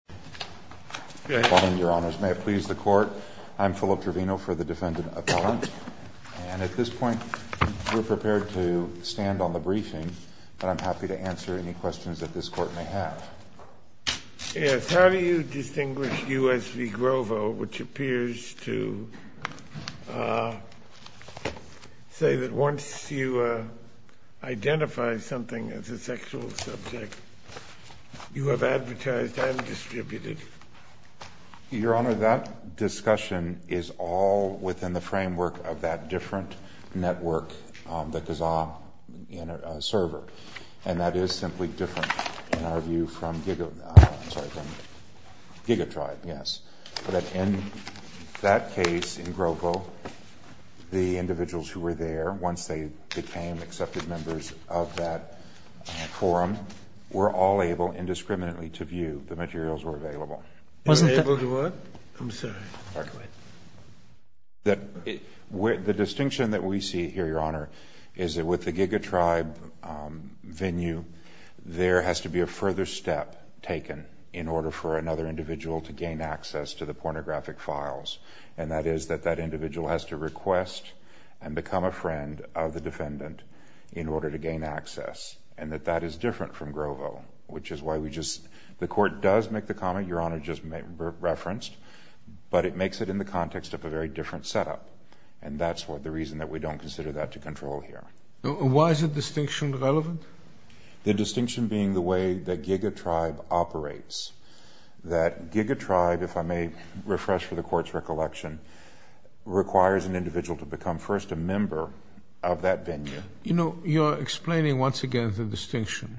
How do you distinguish U.S. v. Grovo, which appears to say that once you identify something as a sexual subject, you have advertised and distributed? Your Honor, that discussion is all within the framework of that different network, the Kazaa server, and that is simply different in our view from Giga Tribe, yes. But in that case in Grovo, the individuals who were there, once they became accepted members of that forum, were all able indiscriminately to view the materials that were available. The distinction that we see here, Your Honor, is that with the Giga Tribe venue, there has to be a further step taken in order for another individual to gain access to the pornographic files, and that is that that individual has to request and become a friend of the defendant in order to gain access, and that that is different from Grovo, which is why we just – the Court does make the comment Your Honor just referenced, but it makes it in the context of a very different setup, and that's the reason that we don't consider that to control here. Why is the distinction relevant? The distinction being the way that Giga Tribe operates, that Giga Tribe, if I may refresh for the Court's recollection, requires an individual to become first a member of that venue. You know, you're explaining once again the distinction.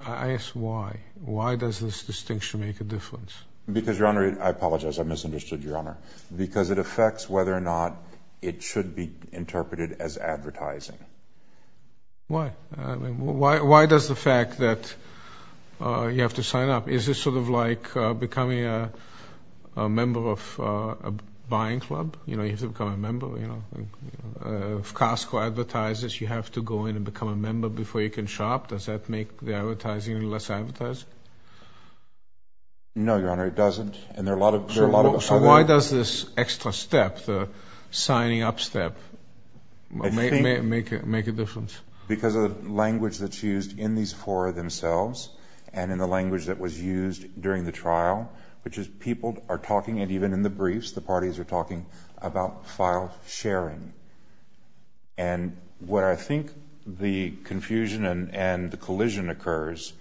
I ask why. Why does this distinction make a difference? Because Your Honor, I apologize, I misunderstood Your Honor. Because it affects whether or not it should be interpreted as advertising. Why? Why does the fact that you have to sign up? Is this sort of like becoming a member of a buying club? You know, you have to become a member, you know. If Costco advertises, you have to go in and become a member before you can shop. Does that make the advertising less advertising? No, Your Honor, it doesn't, and there are a lot of other... So why does this extra step, the signing up step, make a difference? Because of the language that's used in these four themselves and in the language that was used during the trial, which is people are talking, and even in the briefs, the parties are talking about file sharing. And what I think the confusion and the collision occurs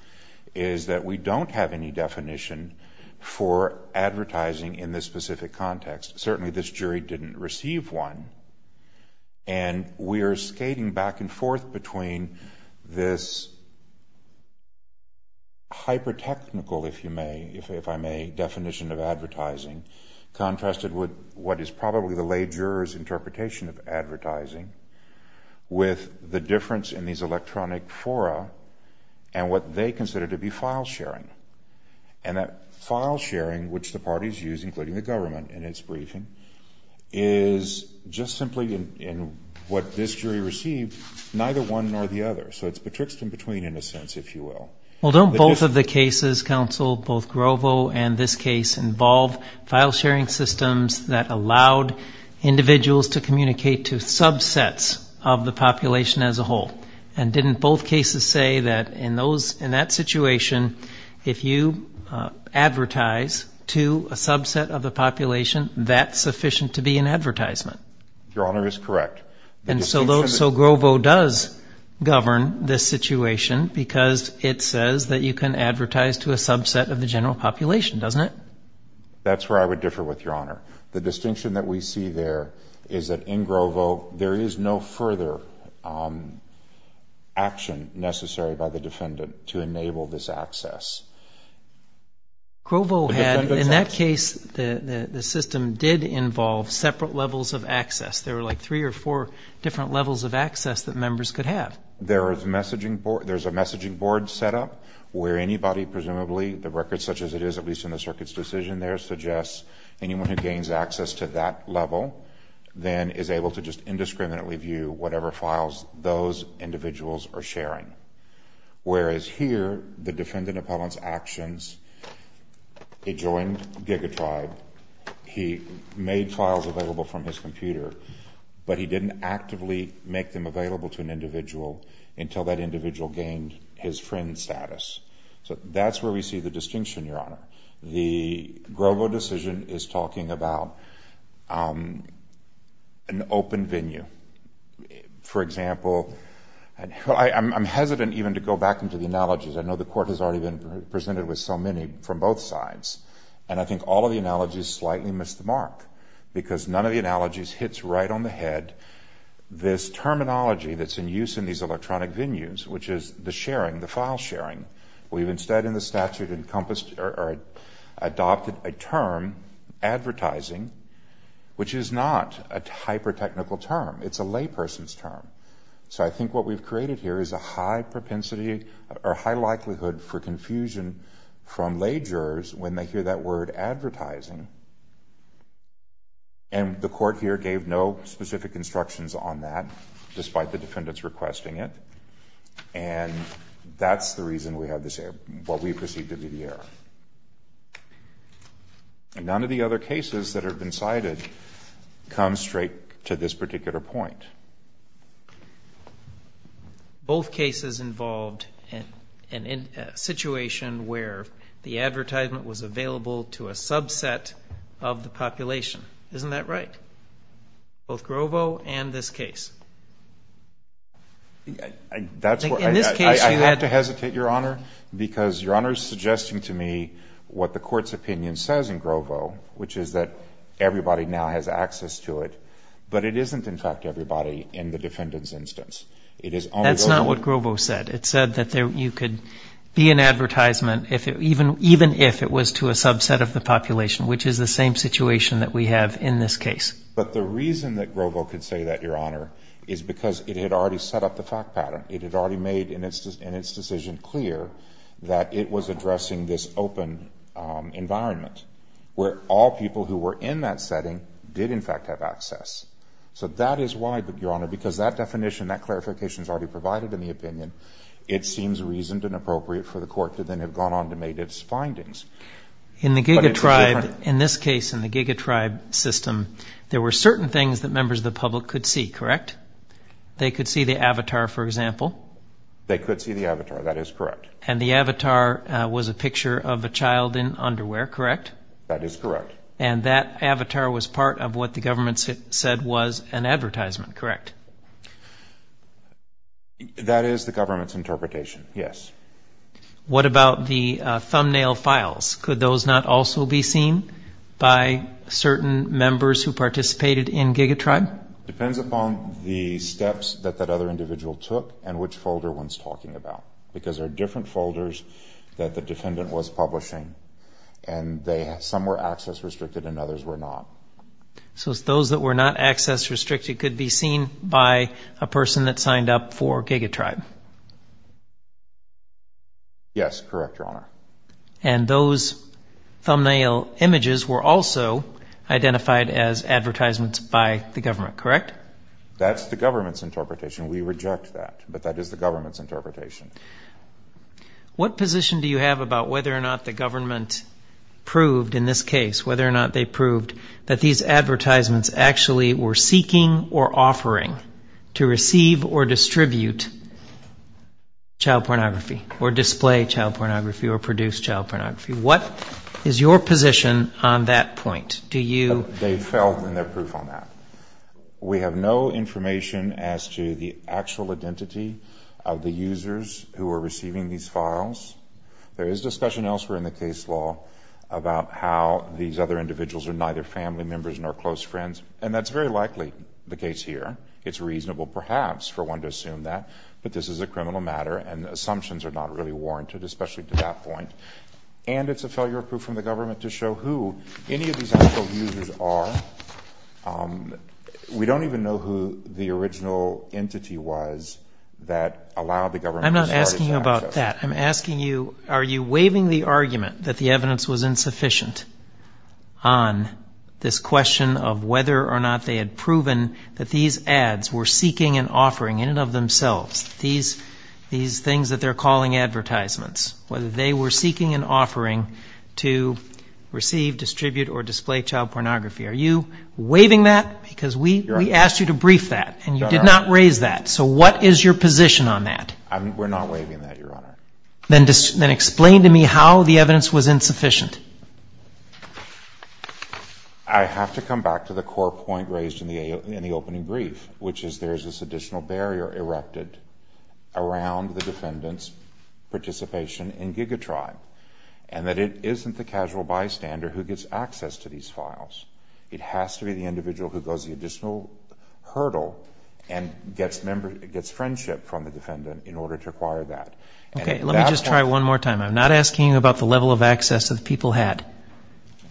is that we don't have any definition for advertising in this specific context. Certainly this jury didn't receive one, and we are skating back and forth between this hyper-technical, if you may, if I may, definition of advertising contrasted with what is probably the lay juror's interpretation of advertising with the difference in these electronic fora and what they consider to be file sharing. And that file sharing, which the parties use, including the government in its briefing, is just simply in what this jury received, neither one nor the other. So it's betwixt and between, in a sense, if you will. Well, don't both of the cases, counsel, both Grovo and this case, involve file sharing systems that allowed individuals to communicate to subsets of the population as a whole? And didn't both cases say that in that situation, if you advertise to a subset of the population, that's sufficient to be an advertisement? Your Honor is correct. And so Grovo does govern this situation because it says that you can advertise to a subset of the general population, doesn't it? That's where I would differ with, Your Honor. The distinction that we see there is that in Grovo, there is no further action necessary by the defendant to enable this access. Grovo had, in that case, the system did involve separate levels of access. There were like three or four different levels of access that members could have. There is a messaging board set up where anybody, presumably, the record such as it is, at least in the circuit's decision there, suggests anyone who gains access to that level then is able to just indiscriminately view whatever files those individuals are sharing. Whereas here, the defendant appellant's actions, he joined GigaTribe, he made files available from his computer, but he didn't actively make them available to an individual until that individual gained his friend status. So that's where we see the distinction, Your Honor. The Grovo decision is talking about an open venue. For example, I'm hesitant even to go back into the analogies. I know the court has already been presented with so many from both sides. And I think all of the analogies slightly miss the mark because none of the analogies hits right on the head this terminology that's in use in these electronic venues, which is the sharing, the file sharing. We've instead in the statute adopted a term, advertising, which is not a hyper-technical term. It's a layperson's term. So I think what we've created here is a high propensity or high likelihood for confusion from lay jurors when they hear that word advertising. And the court here gave no specific instructions on that, despite the defendants requesting it. And that's the reason we have this error, what we perceive to be the error. And none of the other cases that have been cited come straight to this particular point. Both cases involved a situation where the advertisement was available to a subset of the population. Isn't that right? Both Grovo and this case? In this case, I have to hesitate, Your Honor, because Your Honor is suggesting to me what the court's opinion says in Grovo, which is that everybody now has access to it. But it isn't, in fact, everybody in the defendant's instance. It is only... That's not what Grovo said. It said that you could be an advertisement even if it was to a subset of the population, which is the same situation that we have in this case. But the reason that Grovo could say that, Your Honor, is because it had already set up the fact pattern. It had already made in its decision clear that it was addressing this open environment where all people who were in that setting did, in fact, have access. So that is why, Your Honor, because that definition, that clarification is already provided in the opinion, it seems reasoned and appropriate for the court to then have gone on to make its findings. In the Giga Tribe, in this case, in the Giga Tribe system, there were certain things that members of the public could see, correct? They could see the avatar, for example? They could see the avatar. That is correct. And the avatar was a picture of a child in underwear, correct? That is correct. And that avatar was part of what the government said was an advertisement, correct? That is the government's interpretation, yes. What about the thumbnail files? Could those not also be seen by certain members who participated in Giga Tribe? Depends upon the steps that that other individual took and which folder one's talking about. Because there are different folders that the defendant was publishing and some were access restricted and others were not. So those that were not access restricted could be seen by a person that signed up for Giga Tribe? Yes, correct, Your Honor. And those thumbnail images were also identified as advertisements by the government, correct? That's the government's interpretation. We reject that, but that is the government's interpretation. What position do you have about whether or not the government proved in this case, whether or not they proved that these advertisements actually were seeking or offering to receive or distribute child pornography or display child pornography or produce child pornography? What is your position on that point? Do you... They've failed in their proof on that. We have no information as to the actual identity of the users who are receiving these files. There is discussion elsewhere in the case law about how these other individuals are neither family members nor close friends, and that's very likely the case here. It's reasonable perhaps for one to assume that, but this is a criminal matter and assumptions are not really warranted, especially to that point. And it's a failure of proof from the government to show who any of these actual users are. We don't even know who the original entity was that allowed the government to start its access. I'm not asking you about that. I'm asking you, are you waiving the argument that the evidence was insufficient on this question of whether or not they had proven that these ads were seeking and offering in and of themselves, these things that they're calling advertisements, whether they were seeking and offering to receive, distribute, or display child pornography? Are you waiving that? Because we asked you to brief that, and you did not raise that, so what is your position on that? We're not waiving that, Your Honor. Then explain to me how the evidence was insufficient. I have to come back to the core point raised in the opening brief, which is there's this additional barrier erected around the defendant's participation in GigaTribe, and that it isn't the casual bystander who gets access to these files. It has to be the individual who goes the additional hurdle and gets friendship from the defendant in order to acquire that. Okay. Let me just try one more time. I'm not asking you about the level of access that the people had,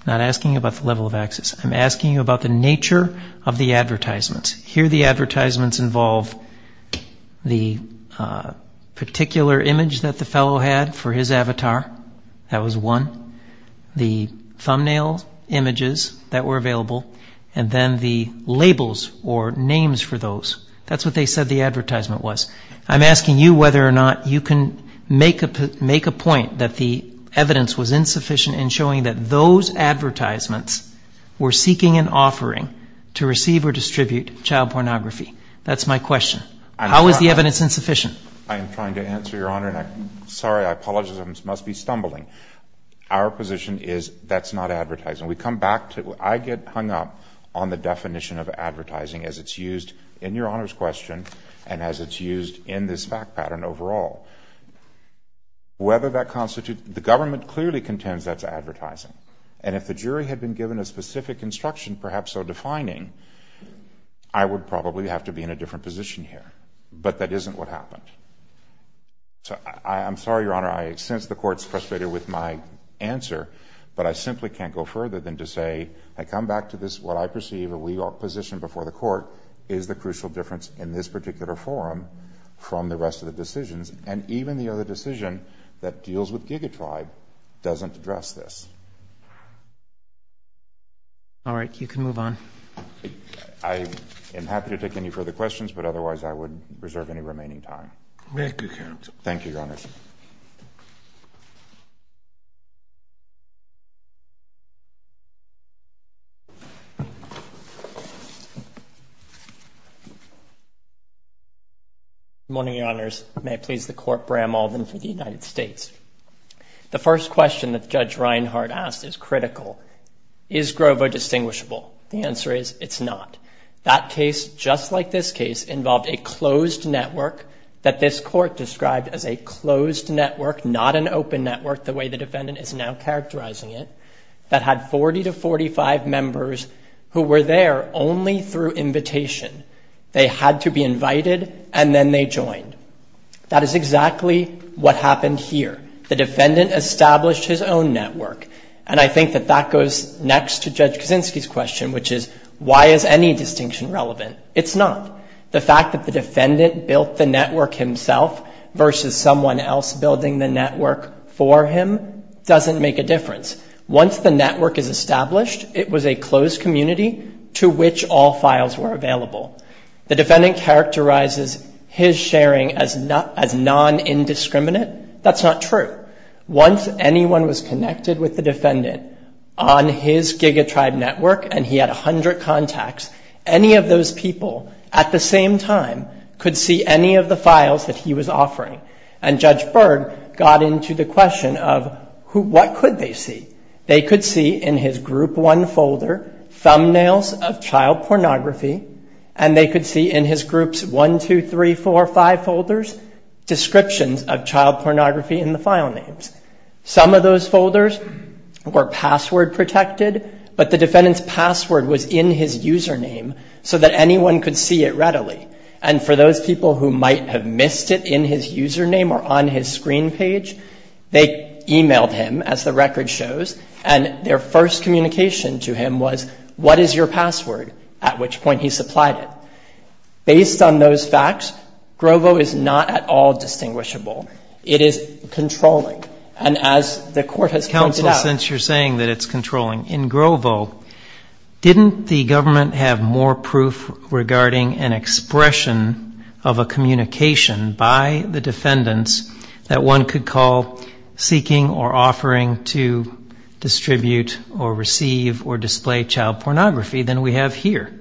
not asking you about the level of access. I'm asking you about the nature of the advertisements. Here the advertisements involve the particular image that the fellow had for his avatar. That was one. The thumbnail images that were available, and then the labels or names for those. That's what they said the advertisement was. I'm asking you whether or not you can make a point that the evidence was insufficient in showing that those advertisements were seeking an offering to receive or distribute child pornography. That's my question. How is the evidence insufficient? I am trying to answer, Your Honor, and I'm sorry, I apologize, I must be stumbling. Our position is that's not advertising. We come back to it. I get hung up on the definition of advertising as it's used in Your Honor's question and as it's used in this fact pattern overall. Whether that constitutes, the government clearly contends that's advertising, and if the jury had been given a specific instruction, perhaps so defining, I would probably have to be in a different position here, but that isn't what happened. So I'm sorry, Your Honor, I sense the Court's frustrated with my answer, but I simply can't go further than to say, I come back to this, what I perceive, we are positioned before the Court, is the crucial difference in this particular forum from the rest of the decisions and even the other decision that deals with GigaTribe doesn't address this. All right, you can move on. I am happy to take any further questions, but otherwise I would reserve any remaining time. Thank you, Your Honor. Good morning, Your Honors. May it please the Court, Bram Alden for the United States. The first question that Judge Reinhart asked is critical. Is Grovo distinguishable? The answer is, it's not. That case, just like this case, involved a closed network that this Court described as a closed network, not an open network the way the defendant is now characterizing it, that had 40 to 45 members who were there only through invitation. They had to be invited, and then they joined. That is exactly what happened here. The defendant established his own network, and I think that that goes next to Judge Kaczynski's question, which is, why is any distinction relevant? It's not. The fact that the defendant built the network himself versus someone else building the network for him doesn't make a difference. Once the network is established, it was a closed community to which all files were available. The defendant characterizes his sharing as non-indiscriminate. That's not true. However, once anyone was connected with the defendant on his GigaTribe network, and he had 100 contacts, any of those people at the same time could see any of the files that he was offering. And Judge Berg got into the question of, what could they see? They could see in his Group 1 folder thumbnails of child pornography, and they could see in his Groups 1, 2, 3, 4, 5 folders descriptions of child pornography in the file names. Some of those folders were password protected, but the defendant's password was in his username so that anyone could see it readily. And for those people who might have missed it in his username or on his screen page, they emailed him, as the record shows, and their first communication to him was, what is your password? At which point, he supplied it. Based on those facts, Grovo is not at all distinguishable. It is controlling. And as the Court has pointed out — Counsel, since you're saying that it's controlling, in Grovo, didn't the government have more proof regarding an expression of a communication by the defendants that one could call seeking or offering to distribute or receive or display child pornography than we have here?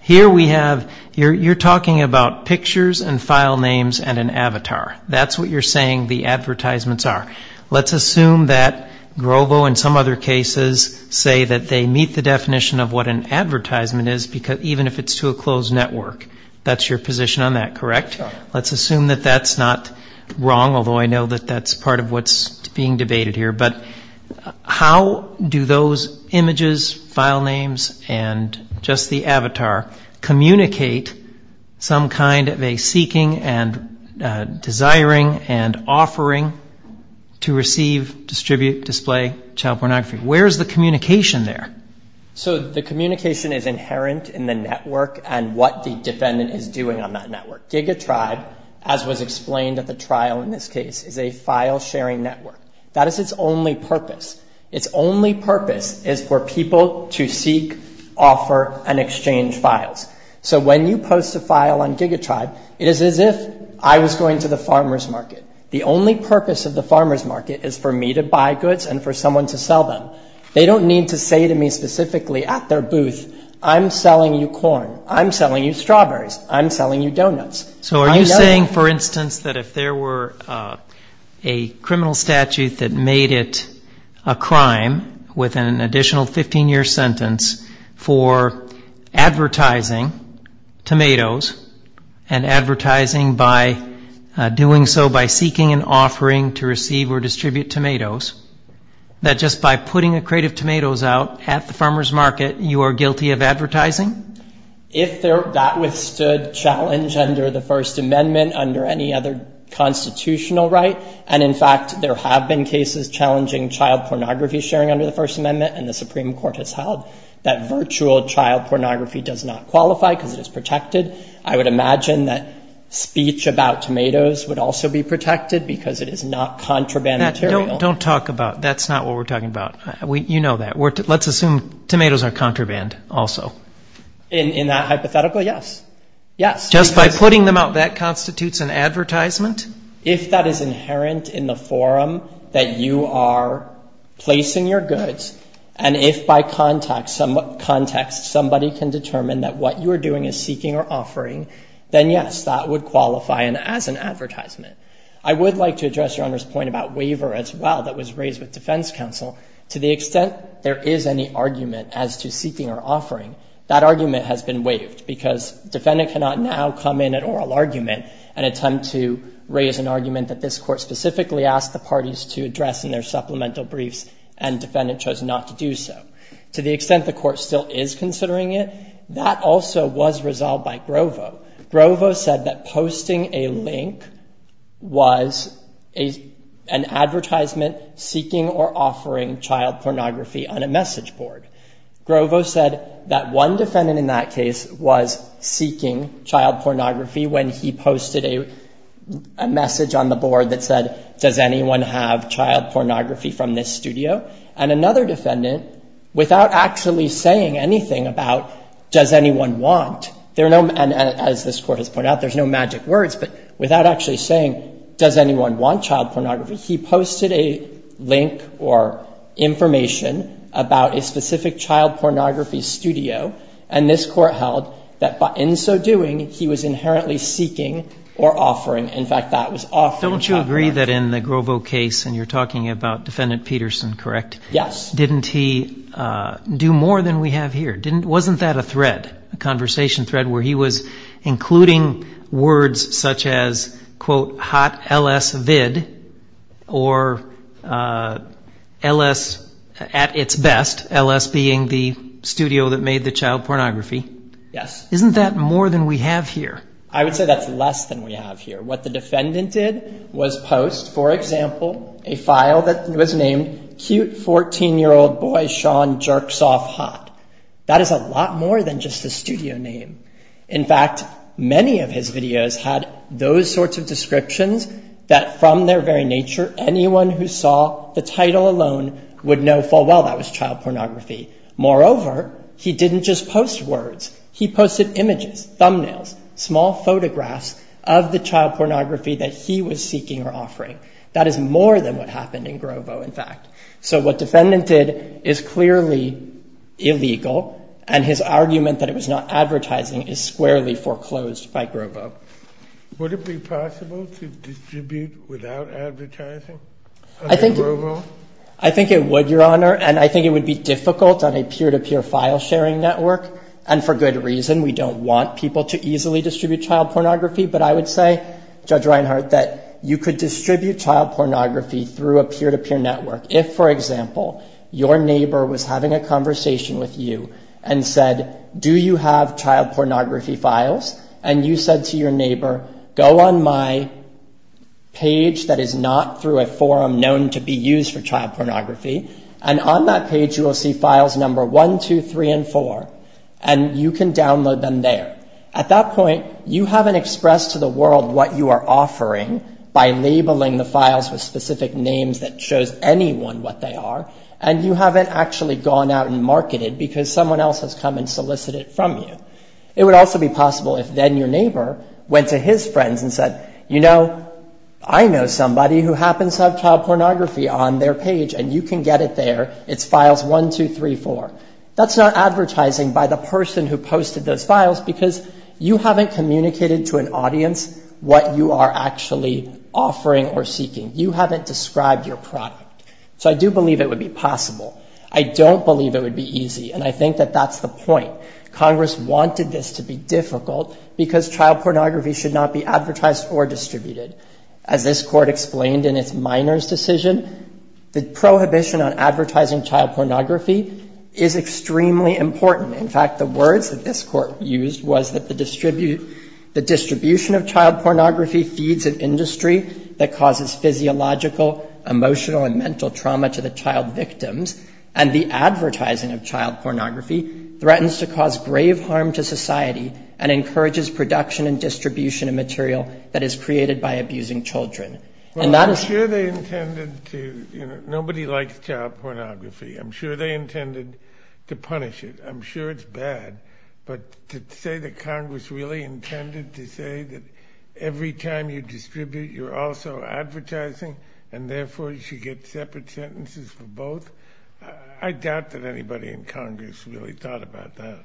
Here we have, you're talking about pictures and file names and an avatar. That's what you're saying the advertisements are. Let's assume that Grovo and some other cases say that they meet the definition of what an advertisement is, even if it's to a closed network. That's your position on that, correct? Let's assume that that's not wrong, although I know that that's part of what's being debated here. But how do those images, file names, and just the avatar communicate some kind of a seeking and desiring and offering to receive, distribute, display child pornography? Where is the communication there? So the communication is inherent in the network and what the defendant is doing on that network. GigaTribe, as was explained at the trial in this case, is a file sharing network. That is its only purpose. Its only purpose is for people to seek, offer, and exchange files. So when you post a file on GigaTribe, it is as if I was going to the farmer's market. The only purpose of the farmer's market is for me to buy goods and for someone to sell them. They don't need to say to me specifically at their booth, I'm selling you corn, I'm selling you strawberries, I'm selling you donuts. So are you saying, for instance, that if there were a criminal statute that made it a crime with an additional 15-year sentence for advertising tomatoes and advertising by doing so by seeking and offering to receive or distribute tomatoes, that just by putting a crate of tomatoes out at the farmer's market, you are guilty of advertising? If that withstood challenge under the First Amendment, under any other constitutional right, and in fact there have been cases challenging child pornography sharing under the First Amendment and the Supreme Court has held that virtual child pornography does not qualify because it is protected, I would imagine that speech about tomatoes would also be protected because it is not contraband material. Don't talk about, that's not what we're talking about. You know that. Let's assume tomatoes are contraband also. In that hypothetical, yes. Just by putting them out, that constitutes an advertisement? If that is inherent in the forum that you are placing your goods, and if by context somebody can determine that what you are doing is seeking or offering, then yes, that would qualify as an advertisement. I would like to address Your Honor's point about waiver as well that was raised with there is any argument as to seeking or offering, that argument has been waived because defendant cannot now come in at oral argument and attempt to raise an argument that this court specifically asked the parties to address in their supplemental briefs and defendant chose not to do so. To the extent the court still is considering it, that also was resolved by Grovo. Grovo said that posting a link was an advertisement seeking or offering child pornography on a message board. Grovo said that one defendant in that case was seeking child pornography when he posted a message on the board that said, does anyone have child pornography from this studio? And another defendant, without actually saying anything about does anyone want, and as this court has pointed out, there's no magic words, but without actually saying does anyone want child pornography. He posted a link or information about a specific child pornography studio, and this court held that in so doing, he was inherently seeking or offering, in fact, that was offering child pornography. Don't you agree that in the Grovo case, and you're talking about defendant Peterson, correct? Yes. Didn't he do more than we have here? Wasn't that a thread, a conversation thread where he was including words such as, quote, hot L.S. vid, or L.S. at its best, L.S. being the studio that made the child pornography? Yes. Isn't that more than we have here? I would say that's less than we have here. What the defendant did was post, for example, a file that was named, cute 14-year-old boy Sean jerks off hot. That is a lot more than just a studio name. In fact, many of his videos had those sorts of descriptions that from their very nature, anyone who saw the title alone would know full well that was child pornography. Moreover, he didn't just post words. He posted images, thumbnails, small photographs of the child pornography that he was seeking or offering. That is more than what happened in Grovo, in fact. So what defendant did is clearly illegal, and his argument that it was not advertising is squarely foreclosed by Grovo. Would it be possible to distribute without advertising? I think it would, Your Honor, and I think it would be difficult on a peer-to-peer file sharing network, and for good reason. We don't want people to easily distribute child pornography, but I would say, Judge If, for example, your neighbor was having a conversation with you and said, do you have child pornography files, and you said to your neighbor, go on my page that is not through a forum known to be used for child pornography, and on that page you will see files number one, two, three, and four, and you can download them there. At that point, you haven't expressed to the world what you are offering by labeling the what they are, and you haven't actually gone out and marketed because someone else has come and solicited from you. It would also be possible if then your neighbor went to his friends and said, you know, I know somebody who happens to have child pornography on their page, and you can get it there. It's files one, two, three, four. That's not advertising by the person who posted those files because you haven't communicated to an audience what you are actually offering or seeking. You haven't described your product. So I do believe it would be possible. I don't believe it would be easy, and I think that that's the point. Congress wanted this to be difficult because child pornography should not be advertised or distributed. As this Court explained in its minors' decision, the prohibition on advertising child pornography is extremely important. In fact, the words that this Court used was that the distribution of child pornography feeds an industry that causes physiological, emotional, and mental trauma to the child victims, and the advertising of child pornography threatens to cause grave harm to society and encourages production and distribution of material that is created by abusing children. Well, I'm sure they intended to, you know, nobody likes child pornography. I'm sure they intended to punish it. I'm sure it's bad, but to say that Congress really intended to say that every time you distribute, you're also advertising, and therefore you should get separate sentences for both, I doubt that anybody in Congress really thought about that.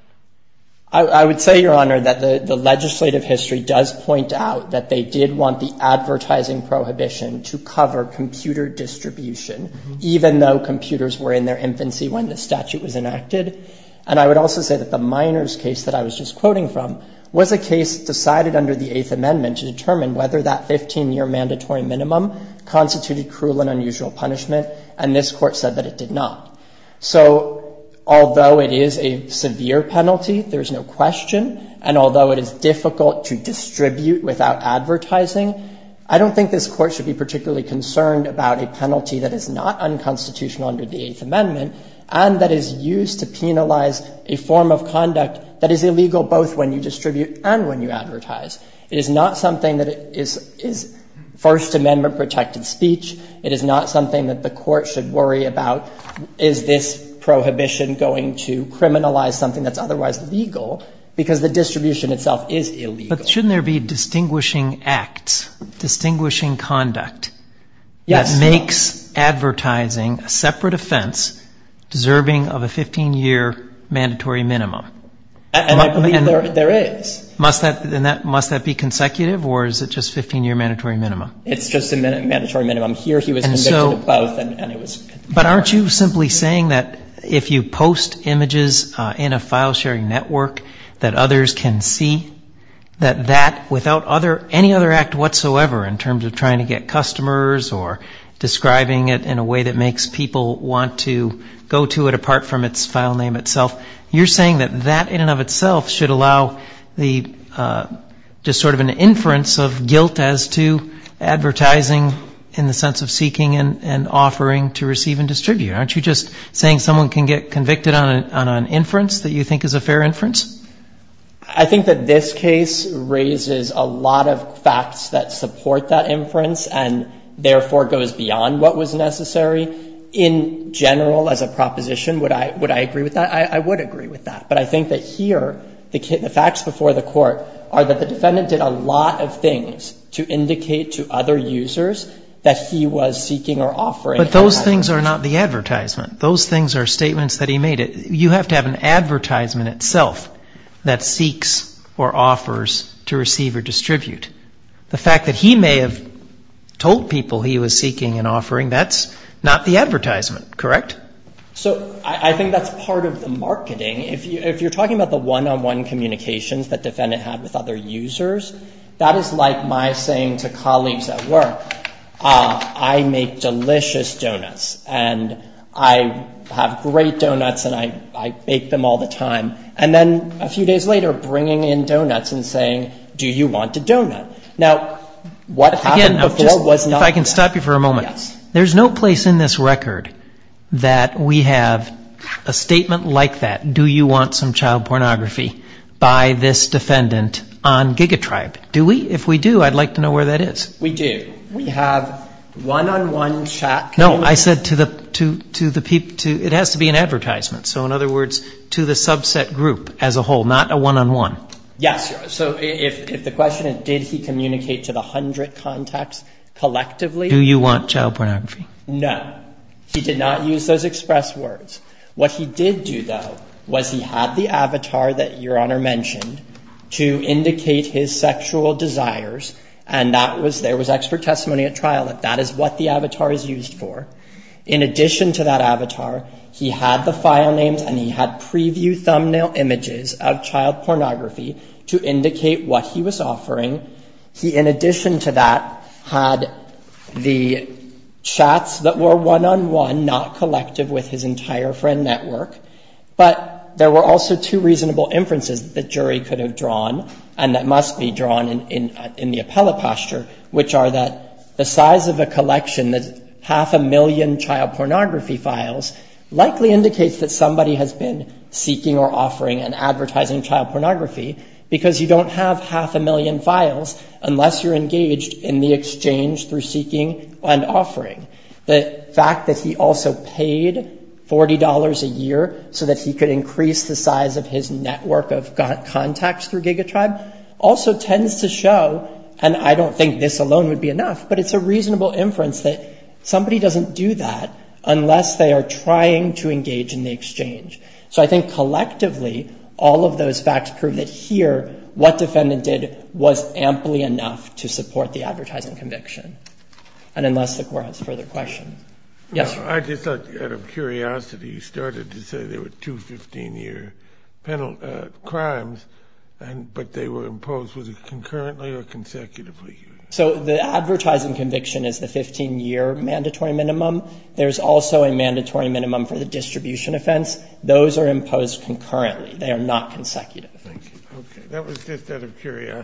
I would say, Your Honor, that the legislative history does point out that they did want the advertising prohibition to cover computer distribution, even though computers were in their infancy when the statute was enacted. And I would also say that the minors' case that I was just quoting from was a case decided under the Eighth Amendment to determine whether that 15-year mandatory minimum constituted cruel and unusual punishment, and this Court said that it did not. So although it is a severe penalty, there's no question, and although it is difficult to distribute without advertising, I don't think this Court should be particularly concerned about a penalty that is not unconstitutional under the Eighth Amendment and that is used to penalize a form of conduct that is illegal both when you distribute and when you advertise. It is not something that is First Amendment-protected speech. It is not something that the Court should worry about, is this prohibition going to criminalize something that's otherwise legal, because the distribution itself is illegal. But shouldn't there be distinguishing acts, distinguishing conduct? Yes. That makes advertising a separate offense deserving of a 15-year mandatory minimum. And I believe there is. Must that be consecutive, or is it just 15-year mandatory minimum? It's just a mandatory minimum. Here he was convicted of ploth, and it was. But aren't you simply saying that if you post images in a file-sharing network that others can see that that, without any other act whatsoever in terms of trying to get customers or describing it in a way that makes people want to go to it apart from its file name itself, you're saying that that in and of itself should allow just sort of an inference of guilt as to advertising in the sense of seeking and offering to receive and distribute. Aren't you just saying someone can get convicted on an inference that you think is a fair inference? I think that this case raises a lot of facts that support that inference and therefore goes beyond what was necessary. In general, as a proposition, would I agree with that? I would agree with that. But I think that here, the facts before the Court are that the defendant did a lot of things to indicate to other users that he was seeking or offering. But those things are not the advertisement. Those things are statements that he made. You have to have an advertisement itself that seeks or offers to receive or distribute. The fact that he may have told people he was seeking and offering, that's not the advertisement, correct? So, I think that's part of the marketing. If you're talking about the one-on-one communications that defendant had with other users, that is like my saying to colleagues at work, I make delicious donuts and I have great donuts and I bake them all the time. And then a few days later, bringing in donuts and saying, do you want a donut? Now, what happened before was not that. If I can stop you for a moment. There's no place in this record that we have a statement like that, do you want some child pornography by this defendant on GigaTribe. Do we? If we do, I'd like to know where that is. We do. We have one-on-one chat. No, I said to the people, it has to be an advertisement. So in other words, to the subset group as a whole, not a one-on-one. Yes. So, if the question is, did he communicate to the hundred contacts collectively? Do you want child pornography? No. He did not use those express words. What he did do, though, was he had the avatar that Your Honor mentioned to indicate his sexual desires and that was, there was expert testimony at trial that that is what the avatar is used for. In addition to that avatar, he had the file names and he had preview thumbnail images of child pornography to indicate what he was offering. He in addition to that had the chats that were one-on-one, not collective with his entire friend network, but there were also two reasonable inferences that the jury could have drawn and that must be drawn in the appellate posture, which are that the size of a collection, half a million child pornography files, likely indicates that somebody has been seeking or offering and advertising child pornography because you don't have half a million files unless you're engaged in the exchange through seeking and offering. The fact that he also paid $40 a year so that he could increase the size of his network of contacts through GigaTribe also tends to show, and I don't think this alone would be enough, but it's a reasonable inference that somebody doesn't do that unless they are trying to engage in the exchange. So I think collectively all of those facts prove that here what defendant did was amply enough to support the advertising conviction. And unless the Court has further questions. Yes, Your Honor. I just thought out of curiosity you started to say there were two 15-year crimes, but they were imposed, was it concurrently or consecutively? So the advertising conviction is the 15-year mandatory minimum. There's also a mandatory minimum for the distribution offense. Those are imposed concurrently. They are not consecutive. Thank you. Okay.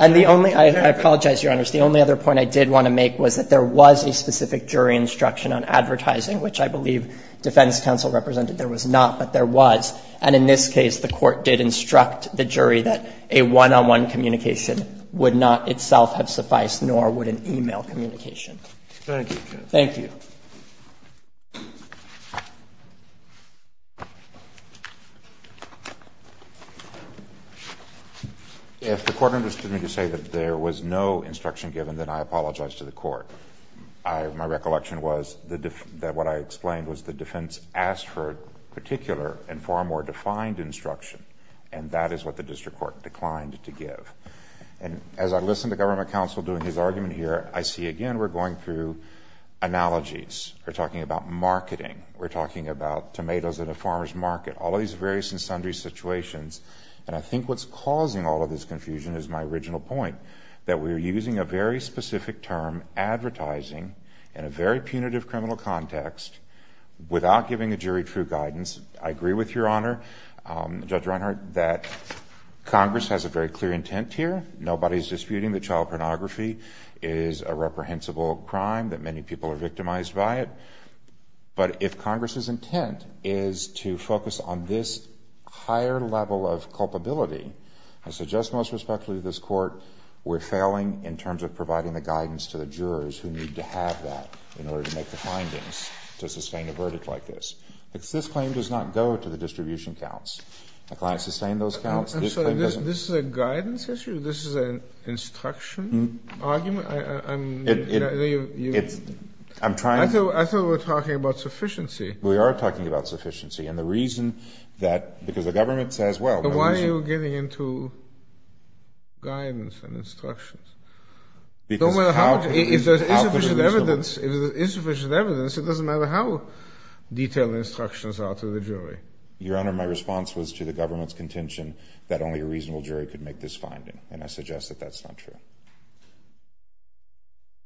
And the only – I apologize, Your Honors. The only other point I did want to make was that there was a specific jury instruction on advertising, which I believe defense counsel represented there was not, but there was. And in this case, the Court did instruct the jury that a one-on-one communication would not itself have sufficed, nor would an e-mail communication. Thank you, Justice. Thank you. If the Court understood me to say that there was no instruction on advertising given, then I apologize to the Court. My recollection was that what I explained was the defense asked for a particular and far more defined instruction, and that is what the district court declined to give. And as I listen to government counsel doing his argument here, I see again we're going through analogies. We're talking about marketing. We're talking about tomatoes in a farmer's market, all of these various and sundry situations. And I think what's causing all of this confusion is my original point, that we're using a very specific term, advertising, in a very punitive criminal context, without giving the jury true guidance. I agree with Your Honor, Judge Reinhart, that Congress has a very clear intent here. Nobody's disputing that child pornography is a reprehensible crime, that many people are victimized by it. But if Congress's intent is to focus on this higher level of culpability, I think we're failing in terms of providing the guidance to the jurors who need to have that in order to make the findings to sustain a verdict like this. This claim does not go to the distribution counts. The client sustained those counts. This claim doesn't. This is a guidance issue? This is an instruction argument? I'm trying to. I thought we were talking about sufficiency. We are talking about sufficiency. And the reason that, because the government says, well, no reason. Why are you getting into guidance and instructions? Because of how to be reasonable. If there's insufficient evidence, if there's insufficient evidence, it doesn't matter how detailed the instructions are to the jury. Your Honor, my response was to the government's contention that only a reasonable jury could make this finding. And I suggest that that's not true.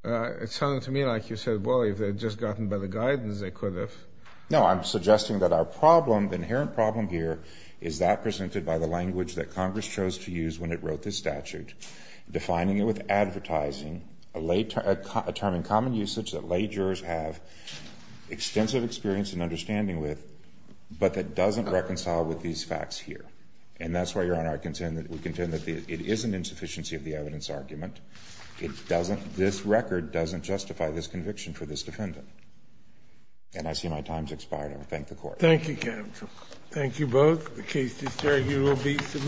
It sounded to me like you said, well, if they had just gotten better guidance, they could have. No, I'm suggesting that our problem, the inherent problem here, is that presented by the language that Congress chose to use when it wrote this statute, defining it with advertising, a term in common usage that lay jurors have extensive experience and understanding with, but that doesn't reconcile with these facts And that's why, Your Honor, we contend that it is an insufficiency of the evidence argument. This record doesn't justify this conviction for this defendant. And I see my time's expired. I will thank the Court. Thank you, counsel. Thank you both. The case is adjourned. You will be submitted.